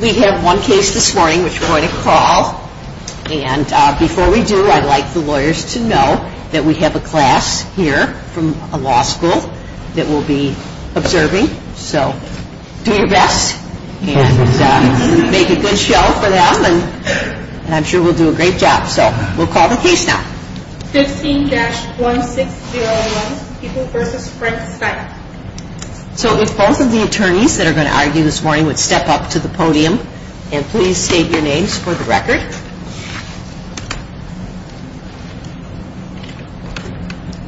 We have one case this morning which we're going to call. And before we do, I'd like the lawyers to know that we have a class here from a law school that we'll be observing. So do your best and make a good show for them and I'm sure we'll do a great job. So we'll call the case now. 15-1601, People v. Frank Stein So if both of the attorneys that are going to argue this morning would step up to the podium and please state your names for the record.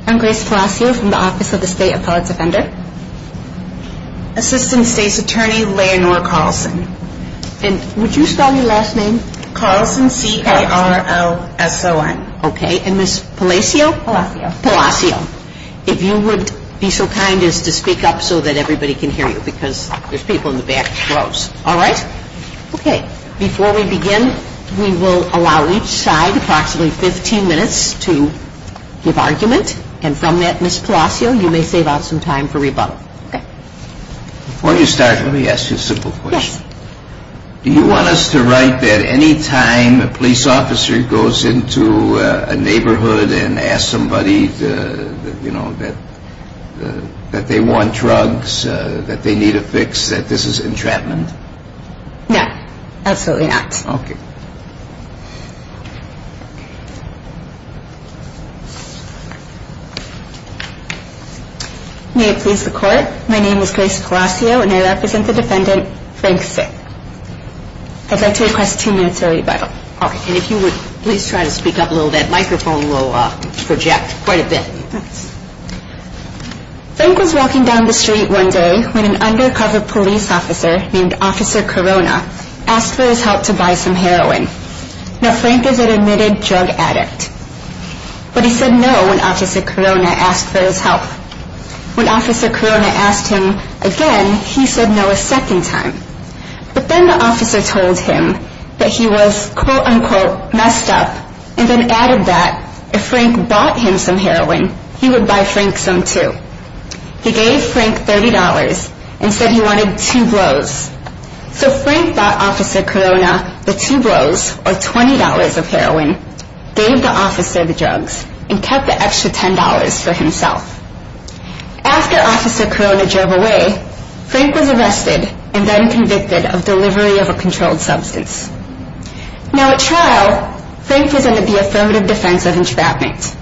I'm Grace Palacio from the Office of the State Appellate Defender. Assistant State's Attorney, Leonore Carlson. And would you spell your last name? Carlson, C-A-R-L-S-O-N. Okay. And Ms. Palacio? Palacio. Palacio. If you would be so kind as to speak up so that everybody can hear you because there's people in the back rows. All right? Okay. Before we begin, we will allow each side approximately 15 minutes to give argument. And from that, Ms. Palacio, you may save out some time for rebuttal. Okay. Before you start, let me ask you a simple question. Yes. Do you want us to write that any time a police officer goes into a neighborhood and asks somebody, you know, that they want drugs, that they need a fix, that this is entrapment? No. Absolutely not. Okay. May it please the Court, my name is Grace Palacio and I represent the defendant, Frank Sick. I'd like to request two minutes of rebuttal. Okay. And if you would please try to speak up a little bit, the microphone will project quite a bit. Frank was walking down the street one day when an undercover police officer named Officer Corona asked for his help to buy some heroin. Now, Frank is an admitted drug addict. But he said no when Officer Corona asked for his help. When Officer Corona asked him again, he said no a second time. But then the officer told him that he was, quote, unquote, messed up, and then added that if Frank bought him some heroin, he would buy Frank some too. He gave Frank $30 and said he wanted two blows. So Frank thought Officer Corona, the two blows, or $20 of heroin, gave the officer the drugs and kept the extra $10 for himself. After Officer Corona drove away, Frank was arrested and then convicted of delivery of a controlled substance. Now, at trial, Frank was under the affirmative defense of entrapment.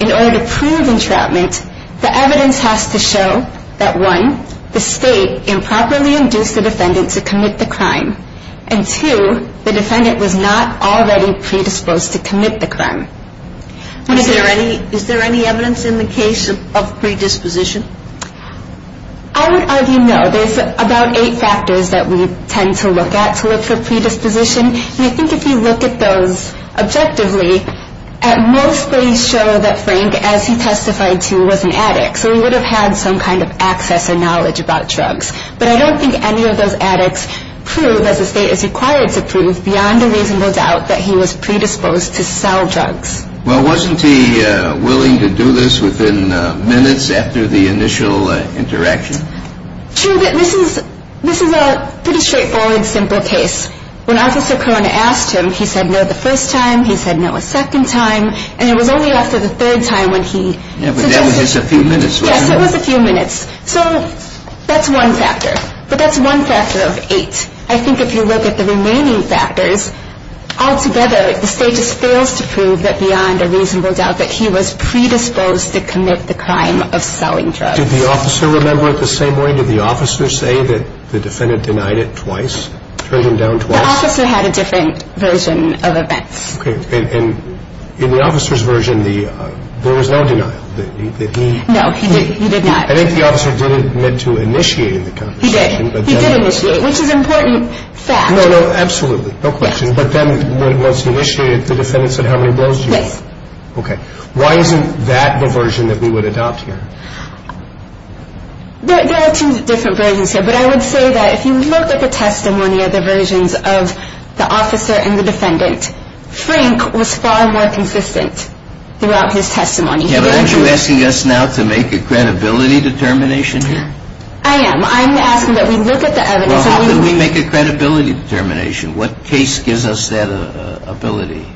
In order to prove entrapment, the evidence has to show that, one, the state improperly induced the defendant to commit the crime, and, two, the defendant was not already predisposed to commit the crime. Is there any evidence in the case of predisposition? I would argue no. There's about eight factors that we tend to look at to look for predisposition. And I think if you look at those objectively, at most they show that Frank, as he testified to, was an addict. So he would have had some kind of access and knowledge about drugs. But I don't think any of those addicts prove, as the state is required to prove, beyond a reasonable doubt, that he was predisposed to sell drugs. Well, wasn't he willing to do this within minutes after the initial interaction? True, but this is a pretty straightforward, simple case. When Officer Corona asked him, he said no the first time, he said no a second time, and it was only after the third time when he... Yeah, but that was just a few minutes, right? Yes, it was a few minutes. So that's one factor, but that's one factor of eight. I think if you look at the remaining factors, altogether the state just fails to prove that beyond a reasonable doubt that he was predisposed to commit the crime of selling drugs. Did the officer remember it the same way? Did the officer say that the defendant denied it twice, turned him down twice? The officer had a different version of events. Okay, and in the officer's version, there was no denial, that he... No, he did not. I think the officer did admit to initiating the conversation, but then... He did, he did initiate, which is an important fact. No, no, absolutely, no question, but then once he initiated, the defendant said how many blows do you want? Yes. Okay, why isn't that the version that we would adopt here? There are two different versions here, but I would say that if you look at the testimony of the versions of the officer and the defendant, Frank was far more consistent throughout his testimony. Yeah, but aren't you asking us now to make a credibility determination here? I am. I'm asking that we look at the evidence... Well, how do we make a credibility determination? What case gives us that ability?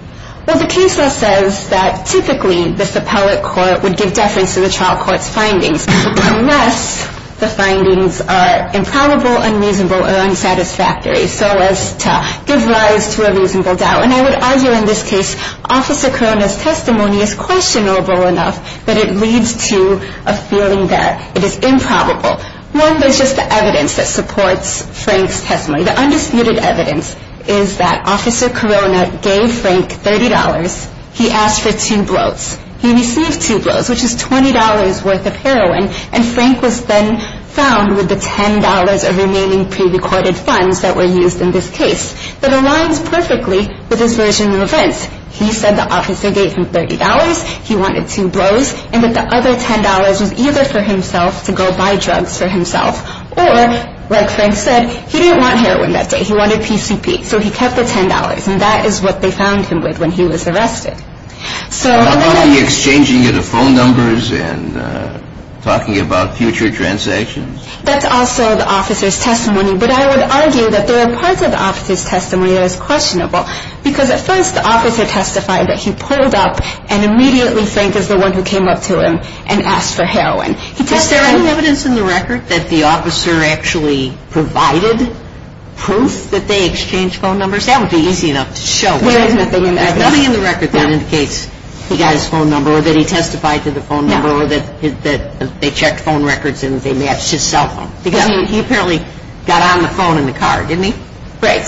Well, the case says that typically this appellate court would give deference to the trial court's findings. But for us, the findings are improbable, unreasonable, or unsatisfactory, so as to give rise to a reasonable doubt. And I would argue in this case, Officer Corona's testimony is questionable enough that it leads to a feeling that it is improbable. One, there's just the evidence that supports Frank's testimony. The undisputed evidence is that Officer Corona gave Frank $30. He asked for two blows. He received two blows, which is $20 worth of heroin, and Frank was then found with the $10 of remaining pre-recorded funds that were used in this case. That aligns perfectly with this version of events. He said the officer gave him $30, he wanted two blows, and that the other $10 was either for himself to go buy drugs for himself, or, like Frank said, he didn't want heroin that day. He wanted PCP. So he kept the $10, and that is what they found him with when he was arrested. How about the exchanging of the phone numbers and talking about future transactions? That's also the officer's testimony, but I would argue that there are parts of the officer's testimony that is questionable, because at first the officer testified that he pulled up and immediately Frank is the one who came up to him and asked for heroin. Is there any evidence in the record that the officer actually provided proof that they exchanged phone numbers? That would be easy enough to show. There is nothing in the record. There's nothing in the record that indicates he got his phone number, or that he testified to the phone number, or that they checked phone records and they matched his cell phone. Because he apparently got on the phone in the car, didn't he? Right.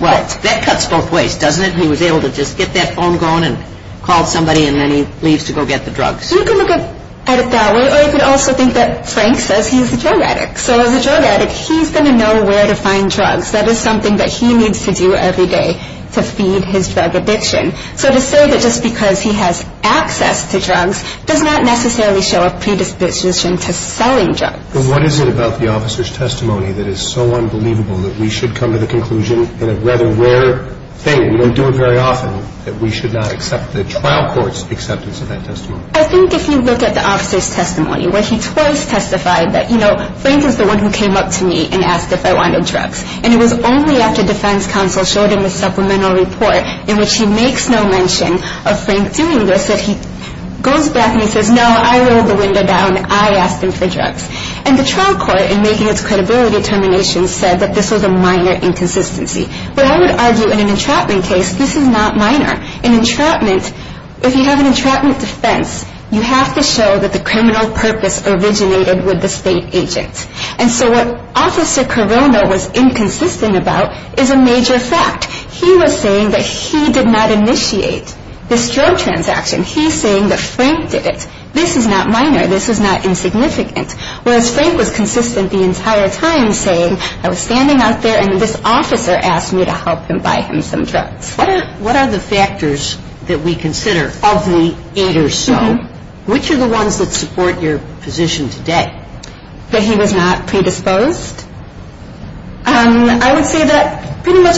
Well, that cuts both ways, doesn't it? He was able to just get that phone going and call somebody, and then he leaves to go get the drugs. You can look at it that way, or you could also think that Frank says he's a drug addict. So as a drug addict, he's going to know where to find drugs. That is something that he needs to do every day to feed his drug addiction. So to say that just because he has access to drugs does not necessarily show a predisposition to selling drugs. Well, what is it about the officer's testimony that is so unbelievable that we should come to the conclusion, in a rather rare thing, we don't do it very often, that we should not accept the trial court's acceptance of that testimony? I think if you look at the officer's testimony, where he twice testified that, you know, Frank is the one who came up to me and asked if I wanted drugs. And it was only after defense counsel showed him the supplemental report in which he makes no mention of Frank doing this that he goes back and he says, no, I rolled the window down, I asked him for drugs. And the trial court, in making its credibility determination, said that this was a minor inconsistency. But I would argue in an entrapment case, this is not minor. In entrapment, if you have an entrapment defense, you have to show that the criminal purpose originated with the state agent. And so what Officer Carono was inconsistent about is a major fact. He was saying that he did not initiate this drug transaction. He's saying that Frank did it. This is not minor. This is not insignificant. Whereas Frank was consistent the entire time, saying, I was standing out there, and this officer asked me to help him buy him some drugs. What are the factors that we consider of the eight or so? Which are the ones that support your position today? That he was not predisposed? I would say that pretty much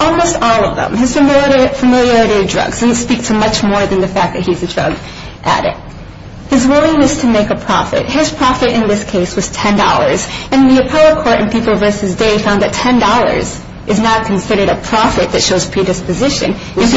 almost all of them. His familiarity of drugs speaks much more than the fact that he's a drug addict. His willingness to make a profit. His profit in this case was $10. And the appellate court in People v. Day found that $10 is not considered a profit that shows predisposition. Was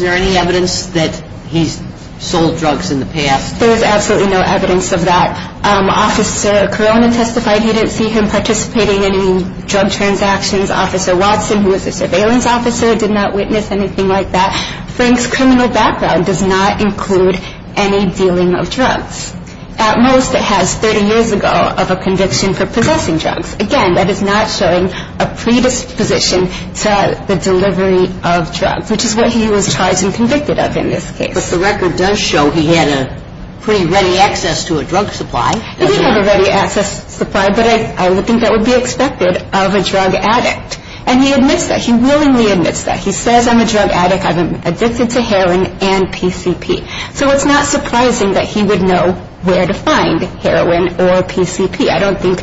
there any evidence that he's sold drugs in the past? There's absolutely no evidence of that. Officer Carono testified he didn't see him participating in any drug transactions. Officer Watson, who was a surveillance officer, did not witness anything like that. Frank's criminal background does not include any dealing of drugs. At most, it has 30 years ago of a conviction for possessing drugs. Again, that is not showing a predisposition to the delivery of drugs, which is what he was charged and convicted of in this case. Because the record does show he had a pretty ready access to a drug supply. He did have a ready access supply, but I would think that would be expected of a drug addict. And he admits that. He willingly admits that. He says, I'm a drug addict. I'm addicted to heroin and PCP. So it's not surprising that he would know where to find heroin or PCP. I don't think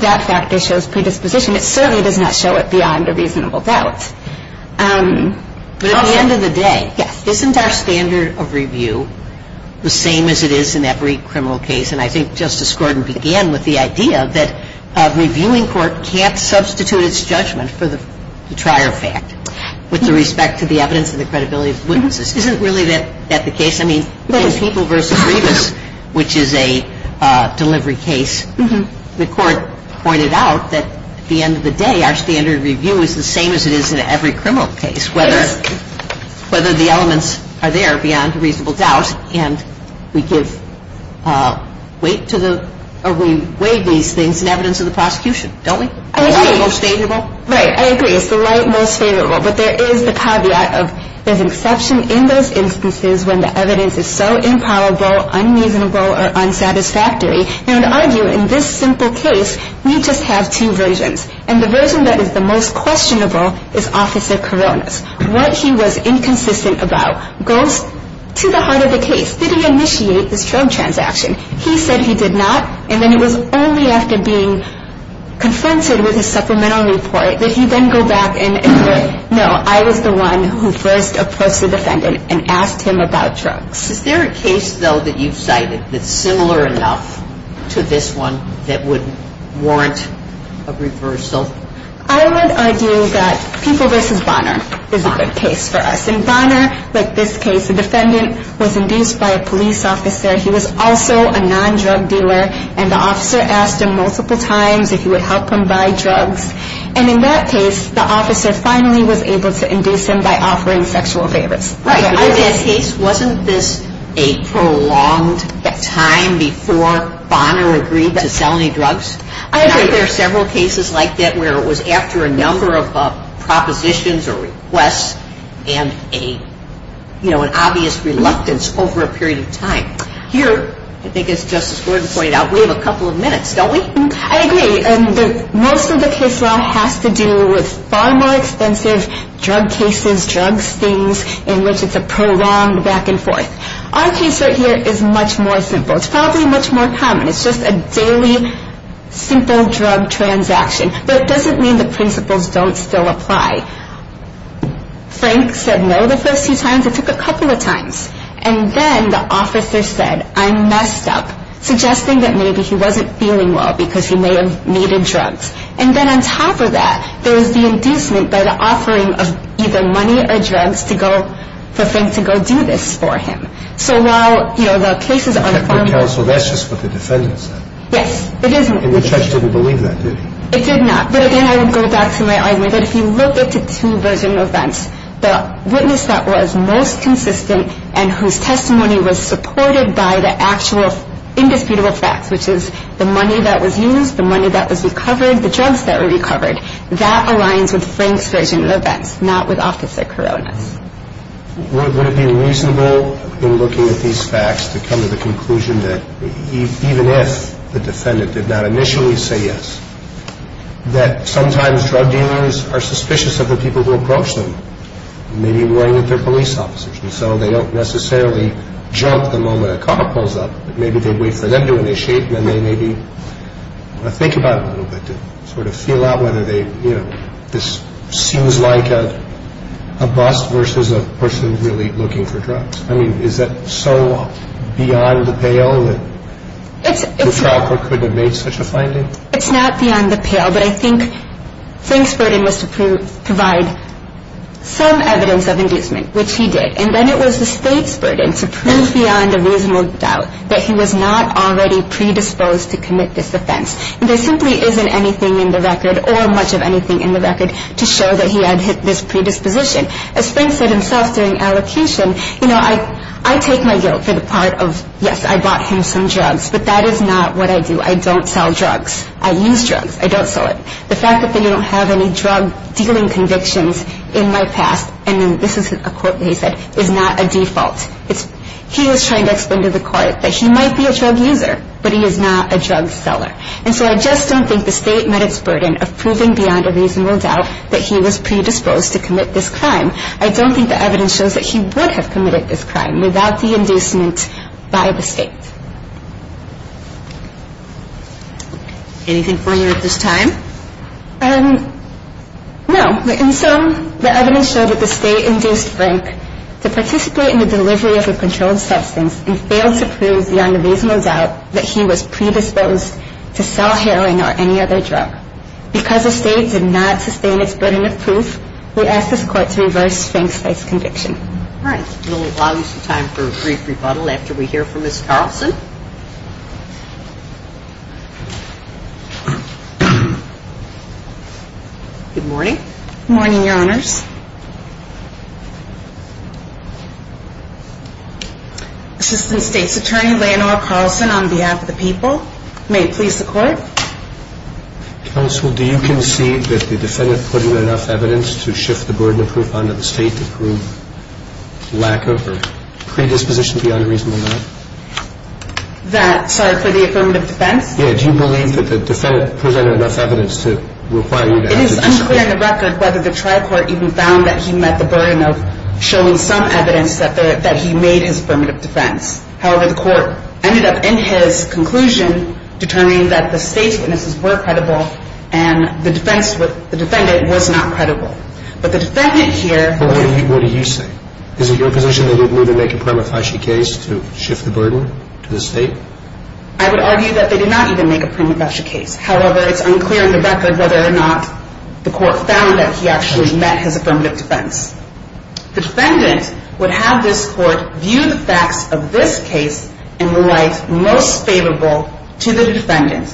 that factor shows predisposition. It certainly does not show it beyond a reasonable doubt. But at the end of the day, isn't our standard of review the same as it is in every criminal case? And I think Justice Gordon began with the idea that a reviewing court can't substitute its judgment for the trier fact with respect to the evidence and the credibility of witnesses. Isn't really that the case? I mean, in People v. Rivas, which is a delivery case, the court pointed out that at the end of the day, our standard of review is the same as it is in every criminal case, whether the elements are there beyond a reasonable doubt, and we give weight to the or we weigh these things in evidence of the prosecution. Don't we? It's the light most favorable. Right. I agree. It's the light most favorable. But there is the caveat of there's an exception in those instances when the evidence is so impalpable, unreasonable, or unsatisfactory. Now, to argue in this simple case, we just have two versions. And the version that is the most questionable is Officer Corona's. What he was inconsistent about goes to the heart of the case. Did he initiate this drug transaction? He said he did not, and then it was only after being confronted with his supplemental report that he then go back and agree, no, I was the one who first approached the defendant and asked him about drugs. Is there a case, though, that you've cited that's similar enough to this one that would warrant a reversal? I would argue that People v. Bonner is a good case for us. In Bonner, like this case, the defendant was induced by a police officer. He was also a non-drug dealer, and the officer asked him multiple times if he would help him buy drugs. And in that case, the officer finally was able to induce him by offering sexual favors. Right, but in that case, wasn't this a prolonged time before Bonner agreed to sell any drugs? I agree. I think there are several cases like that where it was after a number of propositions or requests and an obvious reluctance over a period of time. Here, I think as Justice Gordon pointed out, we have a couple of minutes, don't we? I agree. Most of the case law has to do with far more expensive drug cases, drug stings, in which it's a prolonged back and forth. Our case right here is much more simple. It's probably much more common. It's just a daily, simple drug transaction. But it doesn't mean the principles don't still apply. Frank said no the first few times. It took a couple of times. And then the officer said, I messed up, suggesting that maybe he wasn't feeling well because he may have needed drugs. And then on top of that, there was the inducement by the offering of either money or drugs for Frank to go do this for him. So while the case is unformed. But counsel, that's just what the defendant said. Yes, it is. And the judge didn't believe that, did he? It did not. But again, I would go back to my argument that if you look at the two version of events, the witness that was most consistent and whose testimony was supported by the actual indisputable facts, which is the money that was used, the money that was recovered, the drugs that were recovered, that aligns with Frank's version of events, not with Officer Corona's. Would it be reasonable in looking at these facts to come to the conclusion that, even if the defendant did not initially say yes, that sometimes drug dealers are suspicious of the people who approach them, maybe worrying that they're police officers. And so they don't necessarily jump the moment a car pulls up. Maybe they wait for them to initiate, and then they maybe want to think about it a little bit, to sort of feel out whether they, you know, this seems like a bust versus a person really looking for drugs. I mean, is that so beyond the pale that the trial court couldn't have made such a finding? It's not beyond the pale, but I think Frank's burden was to provide some evidence of inducement, which he did. And then it was the state's burden to prove beyond a reasonable doubt that he was not already predisposed to commit this offense. And there simply isn't anything in the record, or much of anything in the record, to show that he had hit this predisposition. As Frank said himself during allocation, you know, I take my guilt for the part of, yes, I bought him some drugs, but that is not what I do. I don't sell drugs. I use drugs. I don't sell it. The fact that they don't have any drug-dealing convictions in my past, and then this is a quote that he said, is not a default. He was trying to explain to the court that he might be a drug user, but he is not a drug seller. And so I just don't think the state met its burden of proving beyond a reasonable doubt that he was predisposed to commit this crime. I don't think the evidence shows that he would have committed this crime without the inducement by the state. Anything for you at this time? No. In sum, the evidence showed that the state induced Frank to participate in the delivery of a controlled substance and failed to prove beyond a reasonable doubt that he was predisposed to sell heroin or any other drug. Because the state did not sustain its burden of proof, we ask this court to reverse Frank's case conviction. All right. We'll allow you some time for a brief rebuttal after we hear from Ms. Carlson. Good morning. Good morning, Your Honors. Assistant State's Attorney, Leonore Carlson, on behalf of the people, may it please the court. Counsel, do you concede that the defendant presented enough evidence to shift the burden of proof onto the state to prove lack of or predisposition beyond a reasonable doubt? That, sorry, for the affirmative defense? Yeah. Do you believe that the defendant presented enough evidence to require you to act? It is unclear on the record whether the tri-court even found that he met the burden of showing some evidence that he made his affirmative defense. However, the court ended up in his conclusion determining that the state's witnesses were credible and the defendant was not credible. But the defendant here – But what do you say? Is it your position that he didn't even make a prima facie case to shift the burden to the state? I would argue that they did not even make a prima facie case. However, it's unclear on the record whether or not the court found that he actually met his affirmative defense. The defendant would have this court view the facts of this case in the light most favorable to the defendant.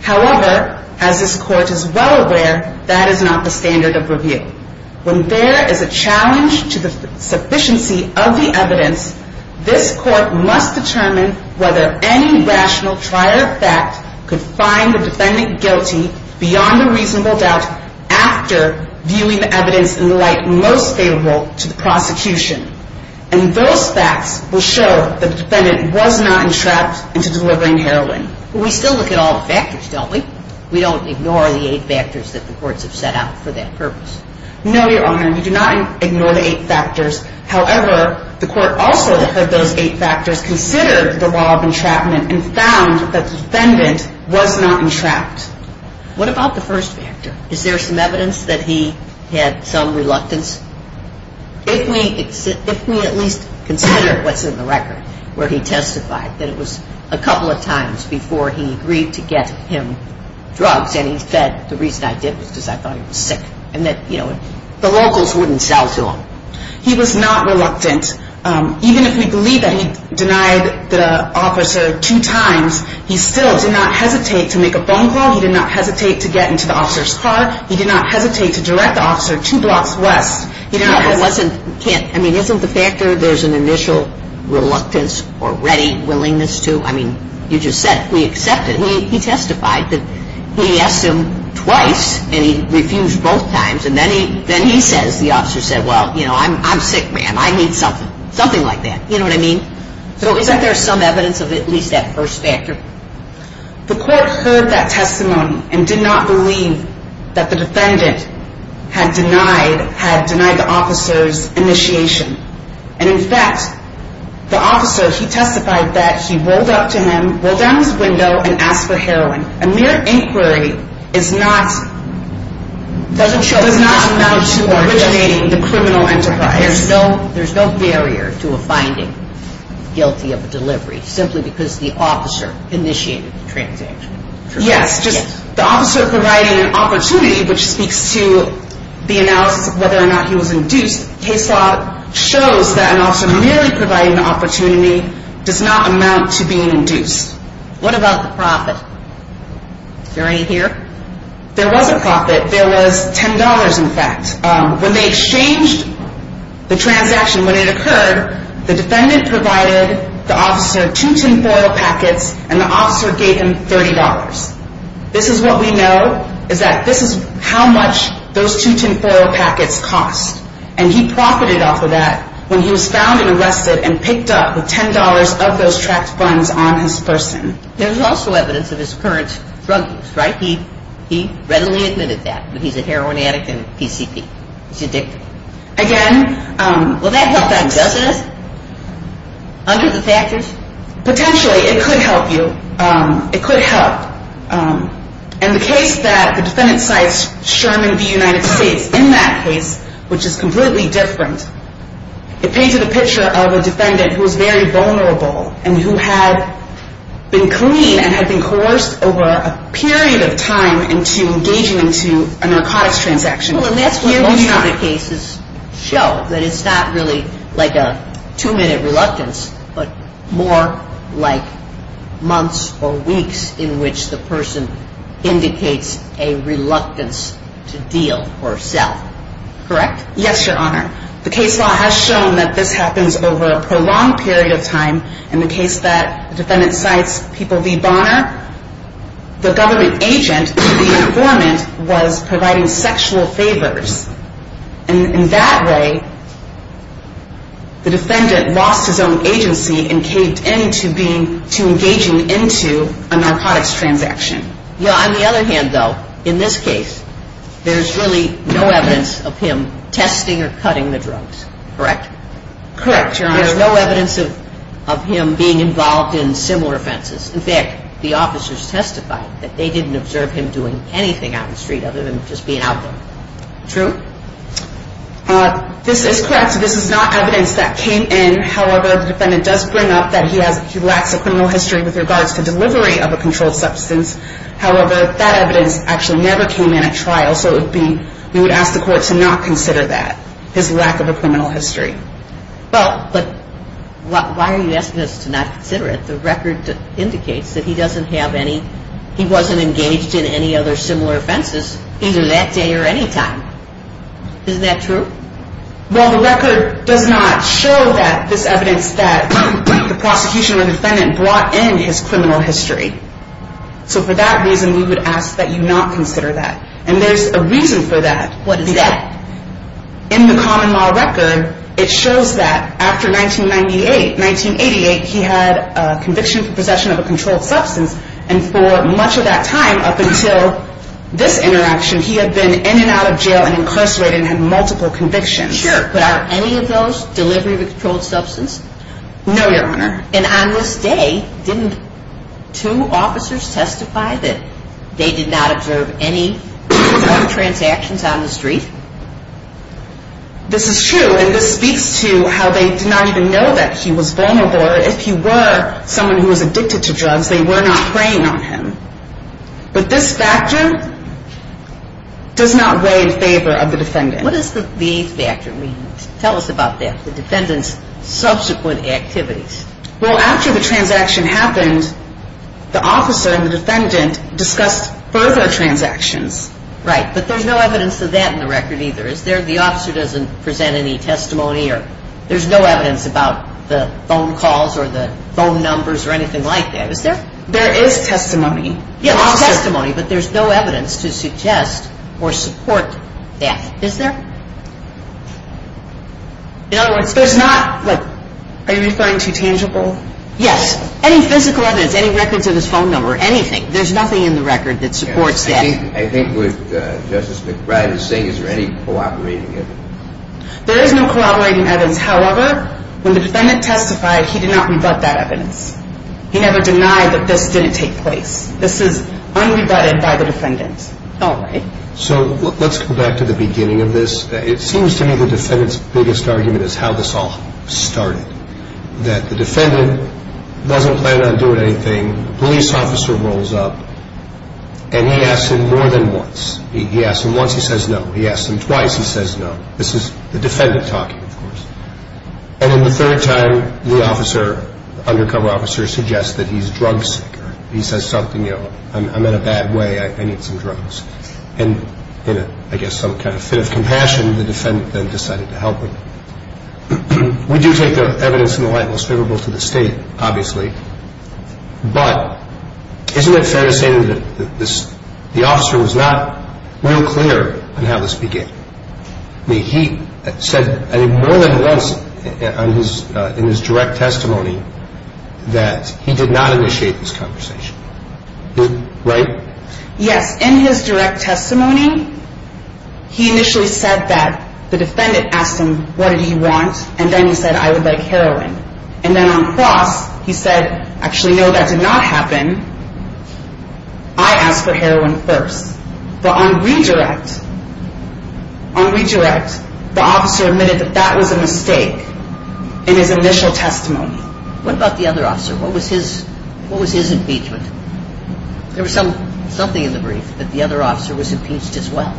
However, as this court is well aware, that is not the standard of review. When there is a challenge to the sufficiency of the evidence, this court must determine whether any rational trial of fact could find the defendant guilty beyond a reasonable doubt after viewing the evidence in the light most favorable to the prosecution. And those facts will show that the defendant was not entrapped into delivering heroin. We still look at all the factors, don't we? We don't ignore the eight factors that the courts have set out for that purpose. No, Your Honor. We do not ignore the eight factors. However, the court also heard those eight factors, considered the law of entrapment, and found that the defendant was not entrapped. What about the first factor? Is there some evidence that he had some reluctance? If we at least consider what's in the record where he testified that it was a couple of times before he agreed to get him drugs and he said the reason I did was because I thought he was sick and that, you know, the locals wouldn't sell to him. He was not reluctant. Even if we believe that he denied the officer two times, he still did not hesitate to make a phone call. He did not hesitate to get into the officer's car. He did not hesitate to direct the officer two blocks west. Yeah, but wasn't, I mean, isn't the factor there's an initial reluctance or ready willingness to, I mean, you just said it. We accept it. He testified that he asked him twice and he refused both times. And then he says, the officer said, well, you know, I'm sick, ma'am. I need something, something like that. You know what I mean? So is there some evidence of at least that first factor? The court heard that testimony and did not believe that the defendant had denied the officer's initiation. And, in fact, the officer, he testified that he rolled up to him, rolled down his window, and asked for heroin. A mere inquiry is not, does not amount to originating the criminal enterprise. There's no barrier to a finding guilty of a delivery simply because the officer initiated the transaction. Yes, just the officer providing an opportunity, which speaks to the analysis of whether or not he was induced. Case law shows that an officer merely providing an opportunity does not amount to being induced. What about the profit? Is there any here? There was a profit. There was $10, in fact. When they exchanged the transaction, when it occurred, the defendant provided the officer two tinfoil packets and the officer gave him $30. This is what we know is that this is how much those two tinfoil packets cost. And he profited off of that when he was found and arrested and picked up with $10 of those tracked funds on his person. There's also evidence of his current drug use, right? He readily admitted that, but he's a heroin addict and PCP. He's addicted. Again, Will that help on justice? Under the factors? Potentially, it could help you. It could help. And the case that the defendant cites, Sherman v. United States, in that case, which is completely different, it painted a picture of a defendant who was very vulnerable and who had been clean and had been coerced over a period of time into engaging into a narcotics transaction. Well, and that's what most of the cases show, that it's not really like a two-minute reluctance, but more like months or weeks in which the person indicates a reluctance to deal or sell. Correct? Yes, Your Honor. The case law has shown that this happens over a prolonged period of time. In the case that the defendant cites, people v. Bonner, the government agent, the informant, was providing sexual favors. And in that way, the defendant lost his own agency and caved in to engaging into a narcotics transaction. Yeah, on the other hand, though, in this case, there's really no evidence of him testing or cutting the drugs. Correct? Correct, Your Honor. There's no evidence of him being involved in similar offenses. In fact, the officers testified that they didn't observe him doing anything out in the street other than just being out there. True? This is correct. This is not evidence that came in. However, the defendant does bring up that he lacks a criminal history with regards to delivery of a controlled substance. However, that evidence actually never came in at trial, so we would ask the court to not consider that, his lack of a criminal history. Well, but why are you asking us to not consider it? The record indicates that he doesn't have any, he wasn't engaged in any other similar offenses either that day or any time. Isn't that true? Well, the record does not show that, this evidence that the prosecution or defendant brought in his criminal history. So for that reason, we would ask that you not consider that. And there's a reason for that. What is that? In the common law record, it shows that after 1998, 1988, he had a conviction for possession of a controlled substance. And for much of that time, up until this interaction, he had been in and out of jail and incarcerated and had multiple convictions. Sure. But are any of those delivery of a controlled substance? No, Your Honor. And on this day, didn't two officers testify that they did not observe any drug transactions on the street? This is true. And this speaks to how they did not even know that he was vulnerable or if he were someone who was addicted to drugs, they were not preying on him. But this factor does not weigh in favor of the defendant. What does the V factor mean? Tell us about that, the defendant's subsequent activities. Well, after the transaction happened, the officer and the defendant discussed further transactions. Right. But there's no evidence of that in the record either, is there? The officer doesn't present any testimony or there's no evidence about the phone calls or the phone numbers or anything like that, is there? There is testimony. Yeah, there's testimony, but there's no evidence to suggest or support that, is there? In other words, there's not, like, are you referring to tangible? Yes. Any physical evidence, any records of his phone number, anything. There's nothing in the record that supports that. I think what Justice McBride is saying, is there any cooperating evidence? There is no cooperating evidence. However, when the defendant testified, he did not rebut that evidence. He never denied that this didn't take place. This is unrebutted by the defendant. All right. So let's go back to the beginning of this. It seems to me the defendant's biggest argument is how this all started, that the defendant doesn't plan on doing anything. A police officer rolls up, and he asks him more than once. He asks him once, he says no. He asks him twice, he says no. This is the defendant talking, of course. And then the third time, the officer, the undercover officer, suggests that he's drug sick. He says something, you know, I'm in a bad way, I need some drugs. And in, I guess, some kind of fit of compassion, the defendant then decided to help him. We do take the evidence in the light most favorable to the State, obviously. But isn't it fair to say that the officer was not real clear on how this began? I mean, he said, I think, more than once in his direct testimony that he did not initiate this conversation. Right? Yes. In his direct testimony, he initially said that the defendant asked him, what did he want? And then he said, I would like heroin. And then on cross, he said, actually, no, that did not happen. I asked for heroin first. But on redirect, on redirect, the officer admitted that that was a mistake in his initial testimony. What about the other officer? What was his, what was his impeachment? There was something in the brief that the other officer was impeached as well.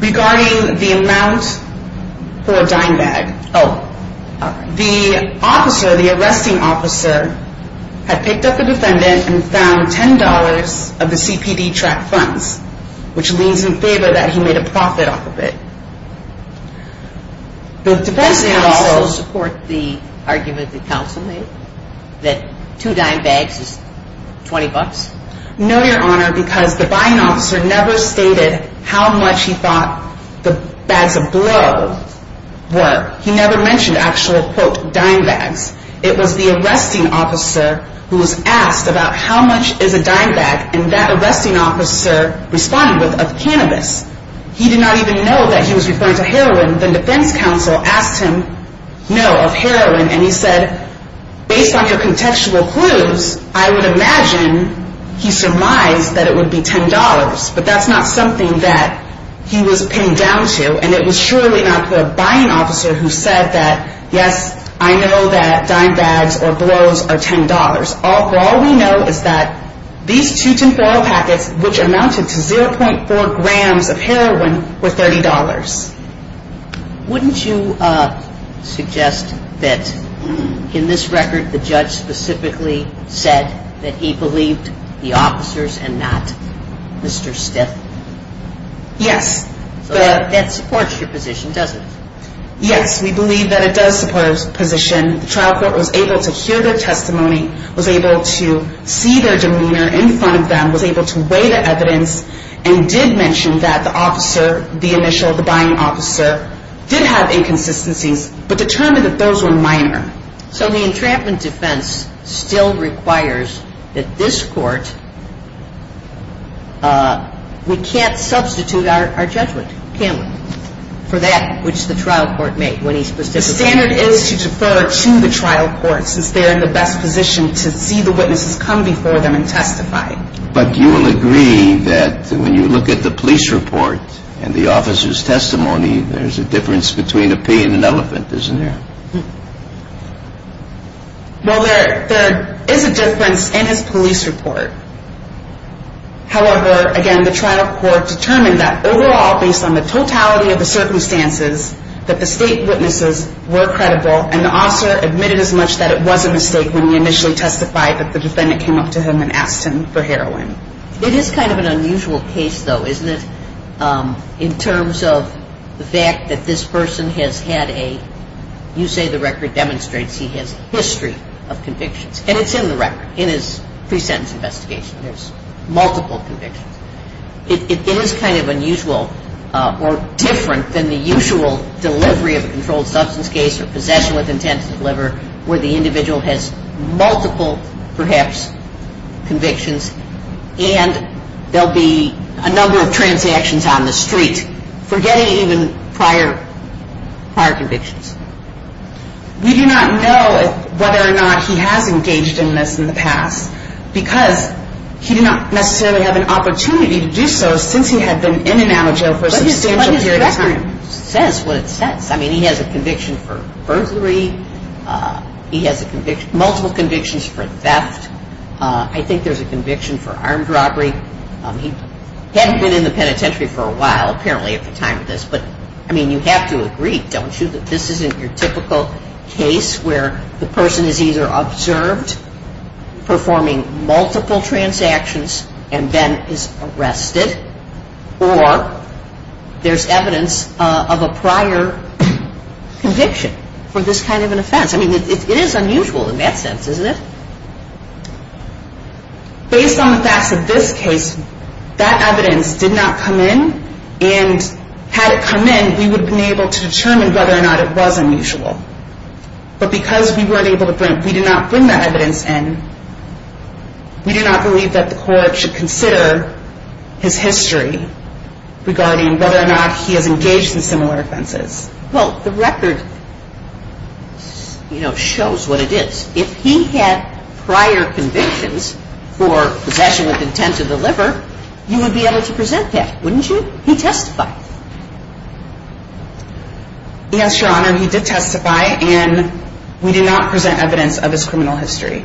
Regarding the amount for a dime bag. Oh. The officer, the arresting officer, had picked up the defendant and found $10 of the CPD track funds, which leans in favor that he made a profit off of it. Does he also support the argument that counsel made? That two dime bags is $20? No, Your Honor, because the buying officer never stated how much he thought the bags of blow were. He never mentioned actual, quote, dime bags. It was the arresting officer who was asked about how much is a dime bag, and that arresting officer responded with, of cannabis. He did not even know that he was referring to heroin. The defense counsel asked him, no, of heroin, and he said, based on your contextual clues, I would imagine he surmised that it would be $10. But that's not something that he was pinned down to, and it was surely not the buying officer who said that, yes, I know that dime bags or blows are $10. All we know is that these two tin foil packets, which amounted to 0.4 grams of heroin, were $30. Wouldn't you suggest that in this record the judge specifically said that he believed the officers and not Mr. Stiff? Yes. That supports your position, doesn't it? Yes, we believe that it does support his position. And the trial court was able to hear their testimony, was able to see their demeanor in front of them, was able to weigh the evidence, and did mention that the officer, the initial, the buying officer, did have inconsistencies but determined that those were minor. So the entrapment defense still requires that this court, we can't substitute our judgment, can we, for that which the trial court made when he specifically said that. The standard is to defer to the trial court since they're in the best position to see the witnesses come before them and testify. But you will agree that when you look at the police report and the officer's testimony, there's a difference between a pea and an elephant, isn't there? Well, there is a difference in his police report. However, again, the trial court determined that overall, based on the totality of the circumstances, that the state witnesses were credible and the officer admitted as much that it was a mistake when he initially testified that the defendant came up to him and asked him for heroin. It is kind of an unusual case, though, isn't it, in terms of the fact that this person has had a, you say the record demonstrates he has a history of convictions. And it's in the record, in his pre-sentence investigation. There's multiple convictions. It is kind of unusual or different than the usual delivery of a controlled substance case or possession with intent to deliver where the individual has multiple, perhaps, convictions. And there will be a number of transactions on the street, forgetting even prior convictions. We do not know whether or not he has engaged in this in the past because he did not necessarily have an opportunity to do so since he had been in and out of jail for a substantial period of time. But his record says what it says. I mean, he has a conviction for burglary. He has multiple convictions for theft. I think there's a conviction for armed robbery. He hadn't been in the penitentiary for a while, apparently, at the time of this. But, I mean, you have to agree, don't you, that this isn't your typical case where the person is either observed performing multiple transactions and then is arrested or there's evidence of a prior conviction for this kind of an offense. I mean, it is unusual in that sense, isn't it? Based on the facts of this case, that evidence did not come in. And had it come in, we would have been able to determine whether or not it was unusual. But because we did not bring that evidence in, we do not believe that the court should consider his history regarding whether or not he has engaged in similar offenses. Well, the record shows what it is. If he had prior convictions for possession with intent to deliver, you would be able to present that, wouldn't you? He testified. Yes, Your Honor, he did testify. And we did not present evidence of his criminal history.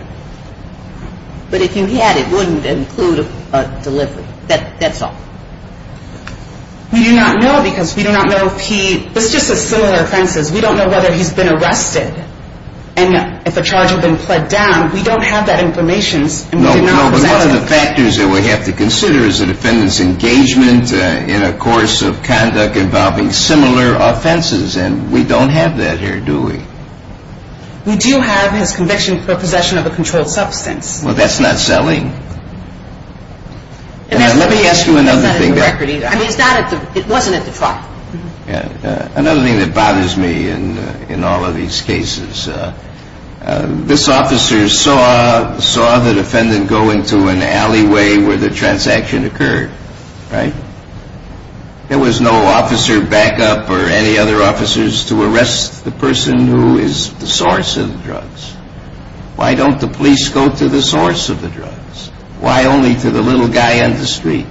But if you had, it wouldn't include a delivery. That's all. We do not know because we do not know if he – let's just say similar offenses. We don't know whether he's been arrested and if a charge had been pled down. We don't have that information. No, but one of the factors that we have to consider is the defendant's engagement in a course of conduct involving similar offenses. And we don't have that here, do we? We do have his conviction for possession of a controlled substance. Well, that's not selling. Let me ask you another thing. I mean, it wasn't at the trial. Another thing that bothers me in all of these cases, this officer saw the defendant go into an alleyway where the transaction occurred, right? There was no officer backup or any other officers to arrest the person who is the source of the drugs. Why don't the police go to the source of the drugs? Why only to the little guy on the street?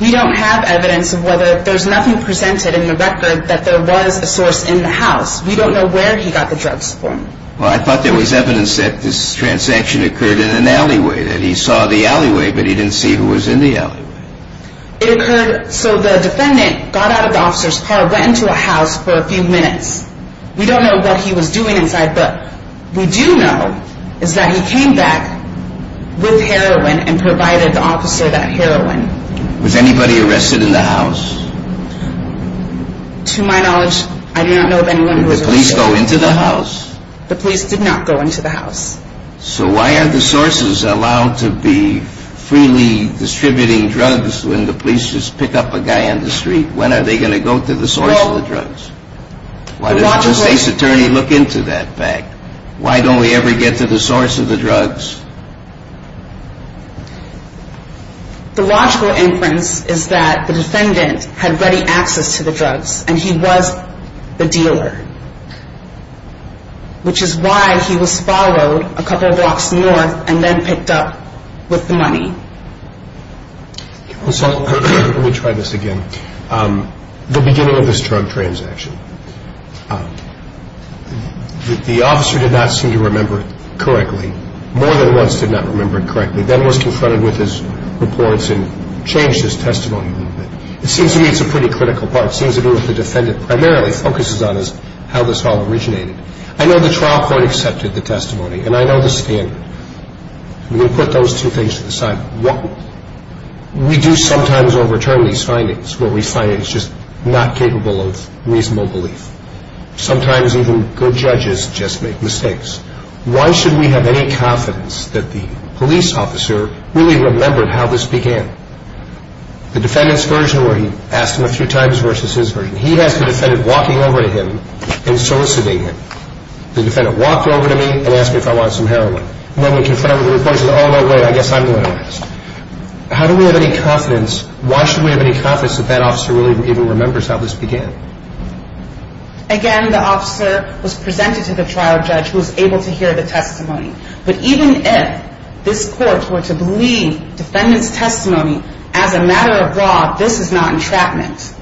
We don't have evidence of whether – there's nothing presented in the record that there was a source in the house. We don't know where he got the drugs from. Well, I thought there was evidence that this transaction occurred in an alleyway, that he saw the alleyway, but he didn't see who was in the alleyway. It occurred – so the defendant got out of the officer's car, went into a house for a few minutes. We don't know what he was doing inside, but we do know is that he came back with heroin and provided the officer that heroin. Was anybody arrested in the house? To my knowledge, I do not know of anyone who was arrested. Did the police go into the house? The police did not go into the house. So why are the sources allowed to be freely distributing drugs when the police just pick up a guy on the street? When are they going to go to the source of the drugs? Why does the state's attorney look into that fact? Why don't we ever get to the source of the drugs? The logical inference is that the defendant had ready access to the drugs, and he was the dealer, which is why he was followed a couple blocks north and then picked up with the money. Let me try this again. The beginning of this drug transaction, the officer did not seem to remember correctly, more than once did not remember correctly, then was confronted with his reports and changed his testimony a little bit. It seems to me it's a pretty critical part. It seems to me what the defendant primarily focuses on is how this all originated. I know the trial court accepted the testimony, and I know the standard. I'm going to put those two things to the side. We do sometimes overturn these findings where we find it's just not capable of reasonable belief. Sometimes even good judges just make mistakes. Why should we have any confidence that the police officer really remembered how this began? The defendant's version where he asked him a few times versus his version. He has the defendant walking over to him and soliciting him. The defendant walked over to me and asked me if I wanted some heroin. When we confronted him with the reports, he said, oh, no way, I guess I'm going to ask. How do we have any confidence? Why should we have any confidence that that officer really even remembers how this began? Again, the officer was presented to the trial judge who was able to hear the testimony. But even if this court were to believe defendant's testimony as a matter of law, this is not entrapment.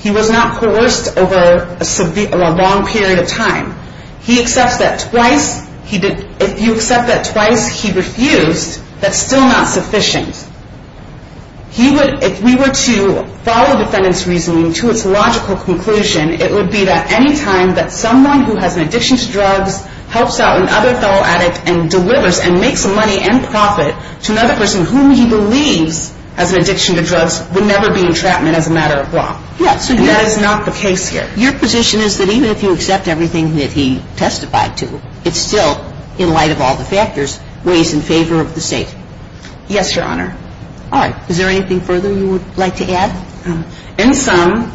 He was not coerced over a long period of time. He accepts that twice. If you accept that twice, he refused, that's still not sufficient. If we were to follow defendant's reasoning to its logical conclusion, it would be that any time that someone who has an addiction to drugs helps out another fellow addict and delivers and makes money and profit to another person whom he believes has an addiction to drugs would never be entrapment as a matter of law. Yes. And that is not the case here. Your position is that even if you accept everything that he testified to, it's still, in light of all the factors, ways in favor of the State. Yes, Your Honor. All right. Is there anything further you would like to add? In sum,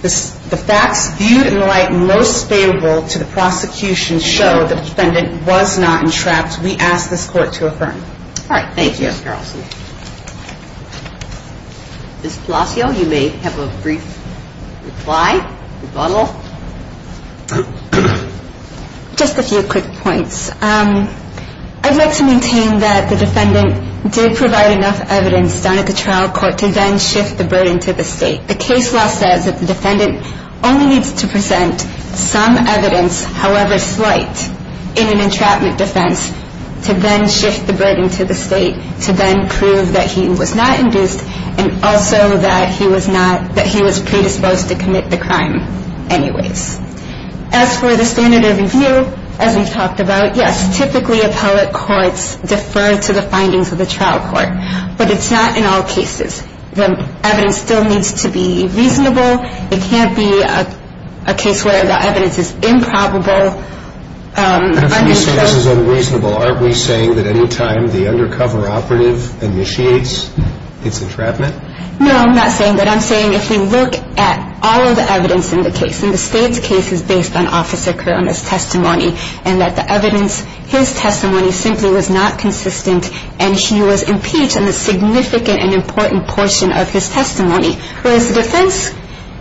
the facts viewed in the light most favorable to the prosecution show the defendant was not entrapped. We ask this court to affirm. All right. Thank you, Ms. Carlson. Ms. Palacio, you may have a brief reply, rebuttal. Just a few quick points. I'd like to maintain that the defendant did provide enough evidence down at the trial court to then shift the burden to the State. The case law says that the defendant only needs to present some evidence, however slight, in an entrapment defense to then shift the burden to the State to then prove that he was not induced and also that he was predisposed to commit the crime anyways. As for the standard of review, as we've talked about, yes, typically appellate courts defer to the findings of the trial court. But it's not in all cases. The evidence still needs to be reasonable. It can't be a case where the evidence is improbable. But if we say this is unreasonable, aren't we saying that any time the undercover operative initiates its entrapment? No, I'm not saying that. I'm saying if we look at all of the evidence in the case, and the State's case is based on Officer Corona's testimony and that the evidence, his testimony, simply was not consistent and he was impeached in a significant and important portion of his testimony, whereas the defense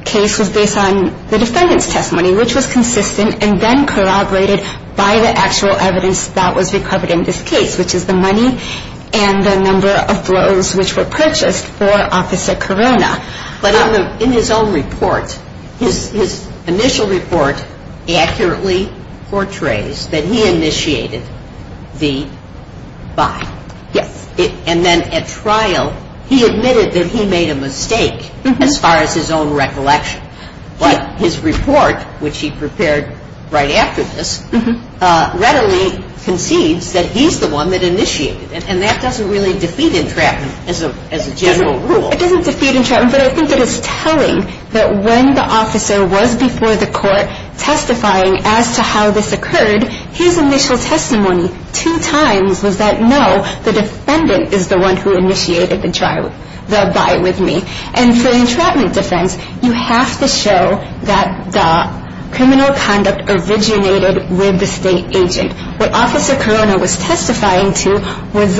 case was based on the defendant's testimony, which was consistent and then corroborated by the actual evidence that was recovered in this case, which is the money and the number of blows which were purchased for Officer Corona. But in his own report, his initial report accurately portrays that he initiated the buy. Yes. And then at trial, he admitted that he made a mistake as far as his own recollection. But his report, which he prepared right after this, readily concedes that he's the one that initiated it. And that doesn't really defeat entrapment as a general rule. It doesn't defeat entrapment, but I think it is telling that when the officer was before the court testifying as to how this occurred, his initial testimony two times was that, no, the defendant is the one who initiated the buy with me. And for the entrapment defense, you have to show that the criminal conduct originated with the state agent. What Officer Corona was testifying to was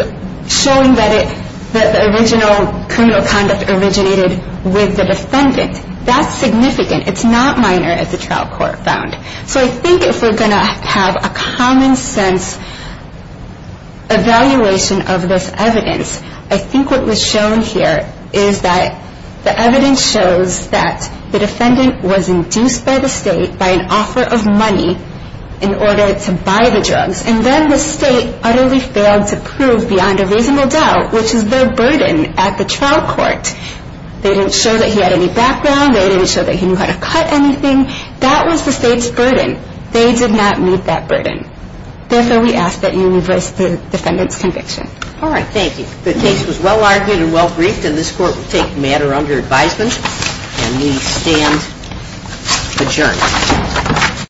showing that the original criminal conduct originated with the defendant. That's significant. It's not minor as the trial court found. So I think if we're going to have a common sense evaluation of this evidence, I think what was shown here is that the evidence shows that the defendant was induced by the state by an offer of money in order to buy the drugs. And then the state utterly failed to prove beyond a reasonable doubt, which is their burden at the trial court. They didn't show that he had any background. They didn't show that he knew how to cut anything. That was the state's burden. They did not meet that burden. Therefore, we ask that you reverse the defendant's conviction. All right, thank you. The case was well-argued and well-briefed, and this court will take the matter under advisement. And we stand adjourned.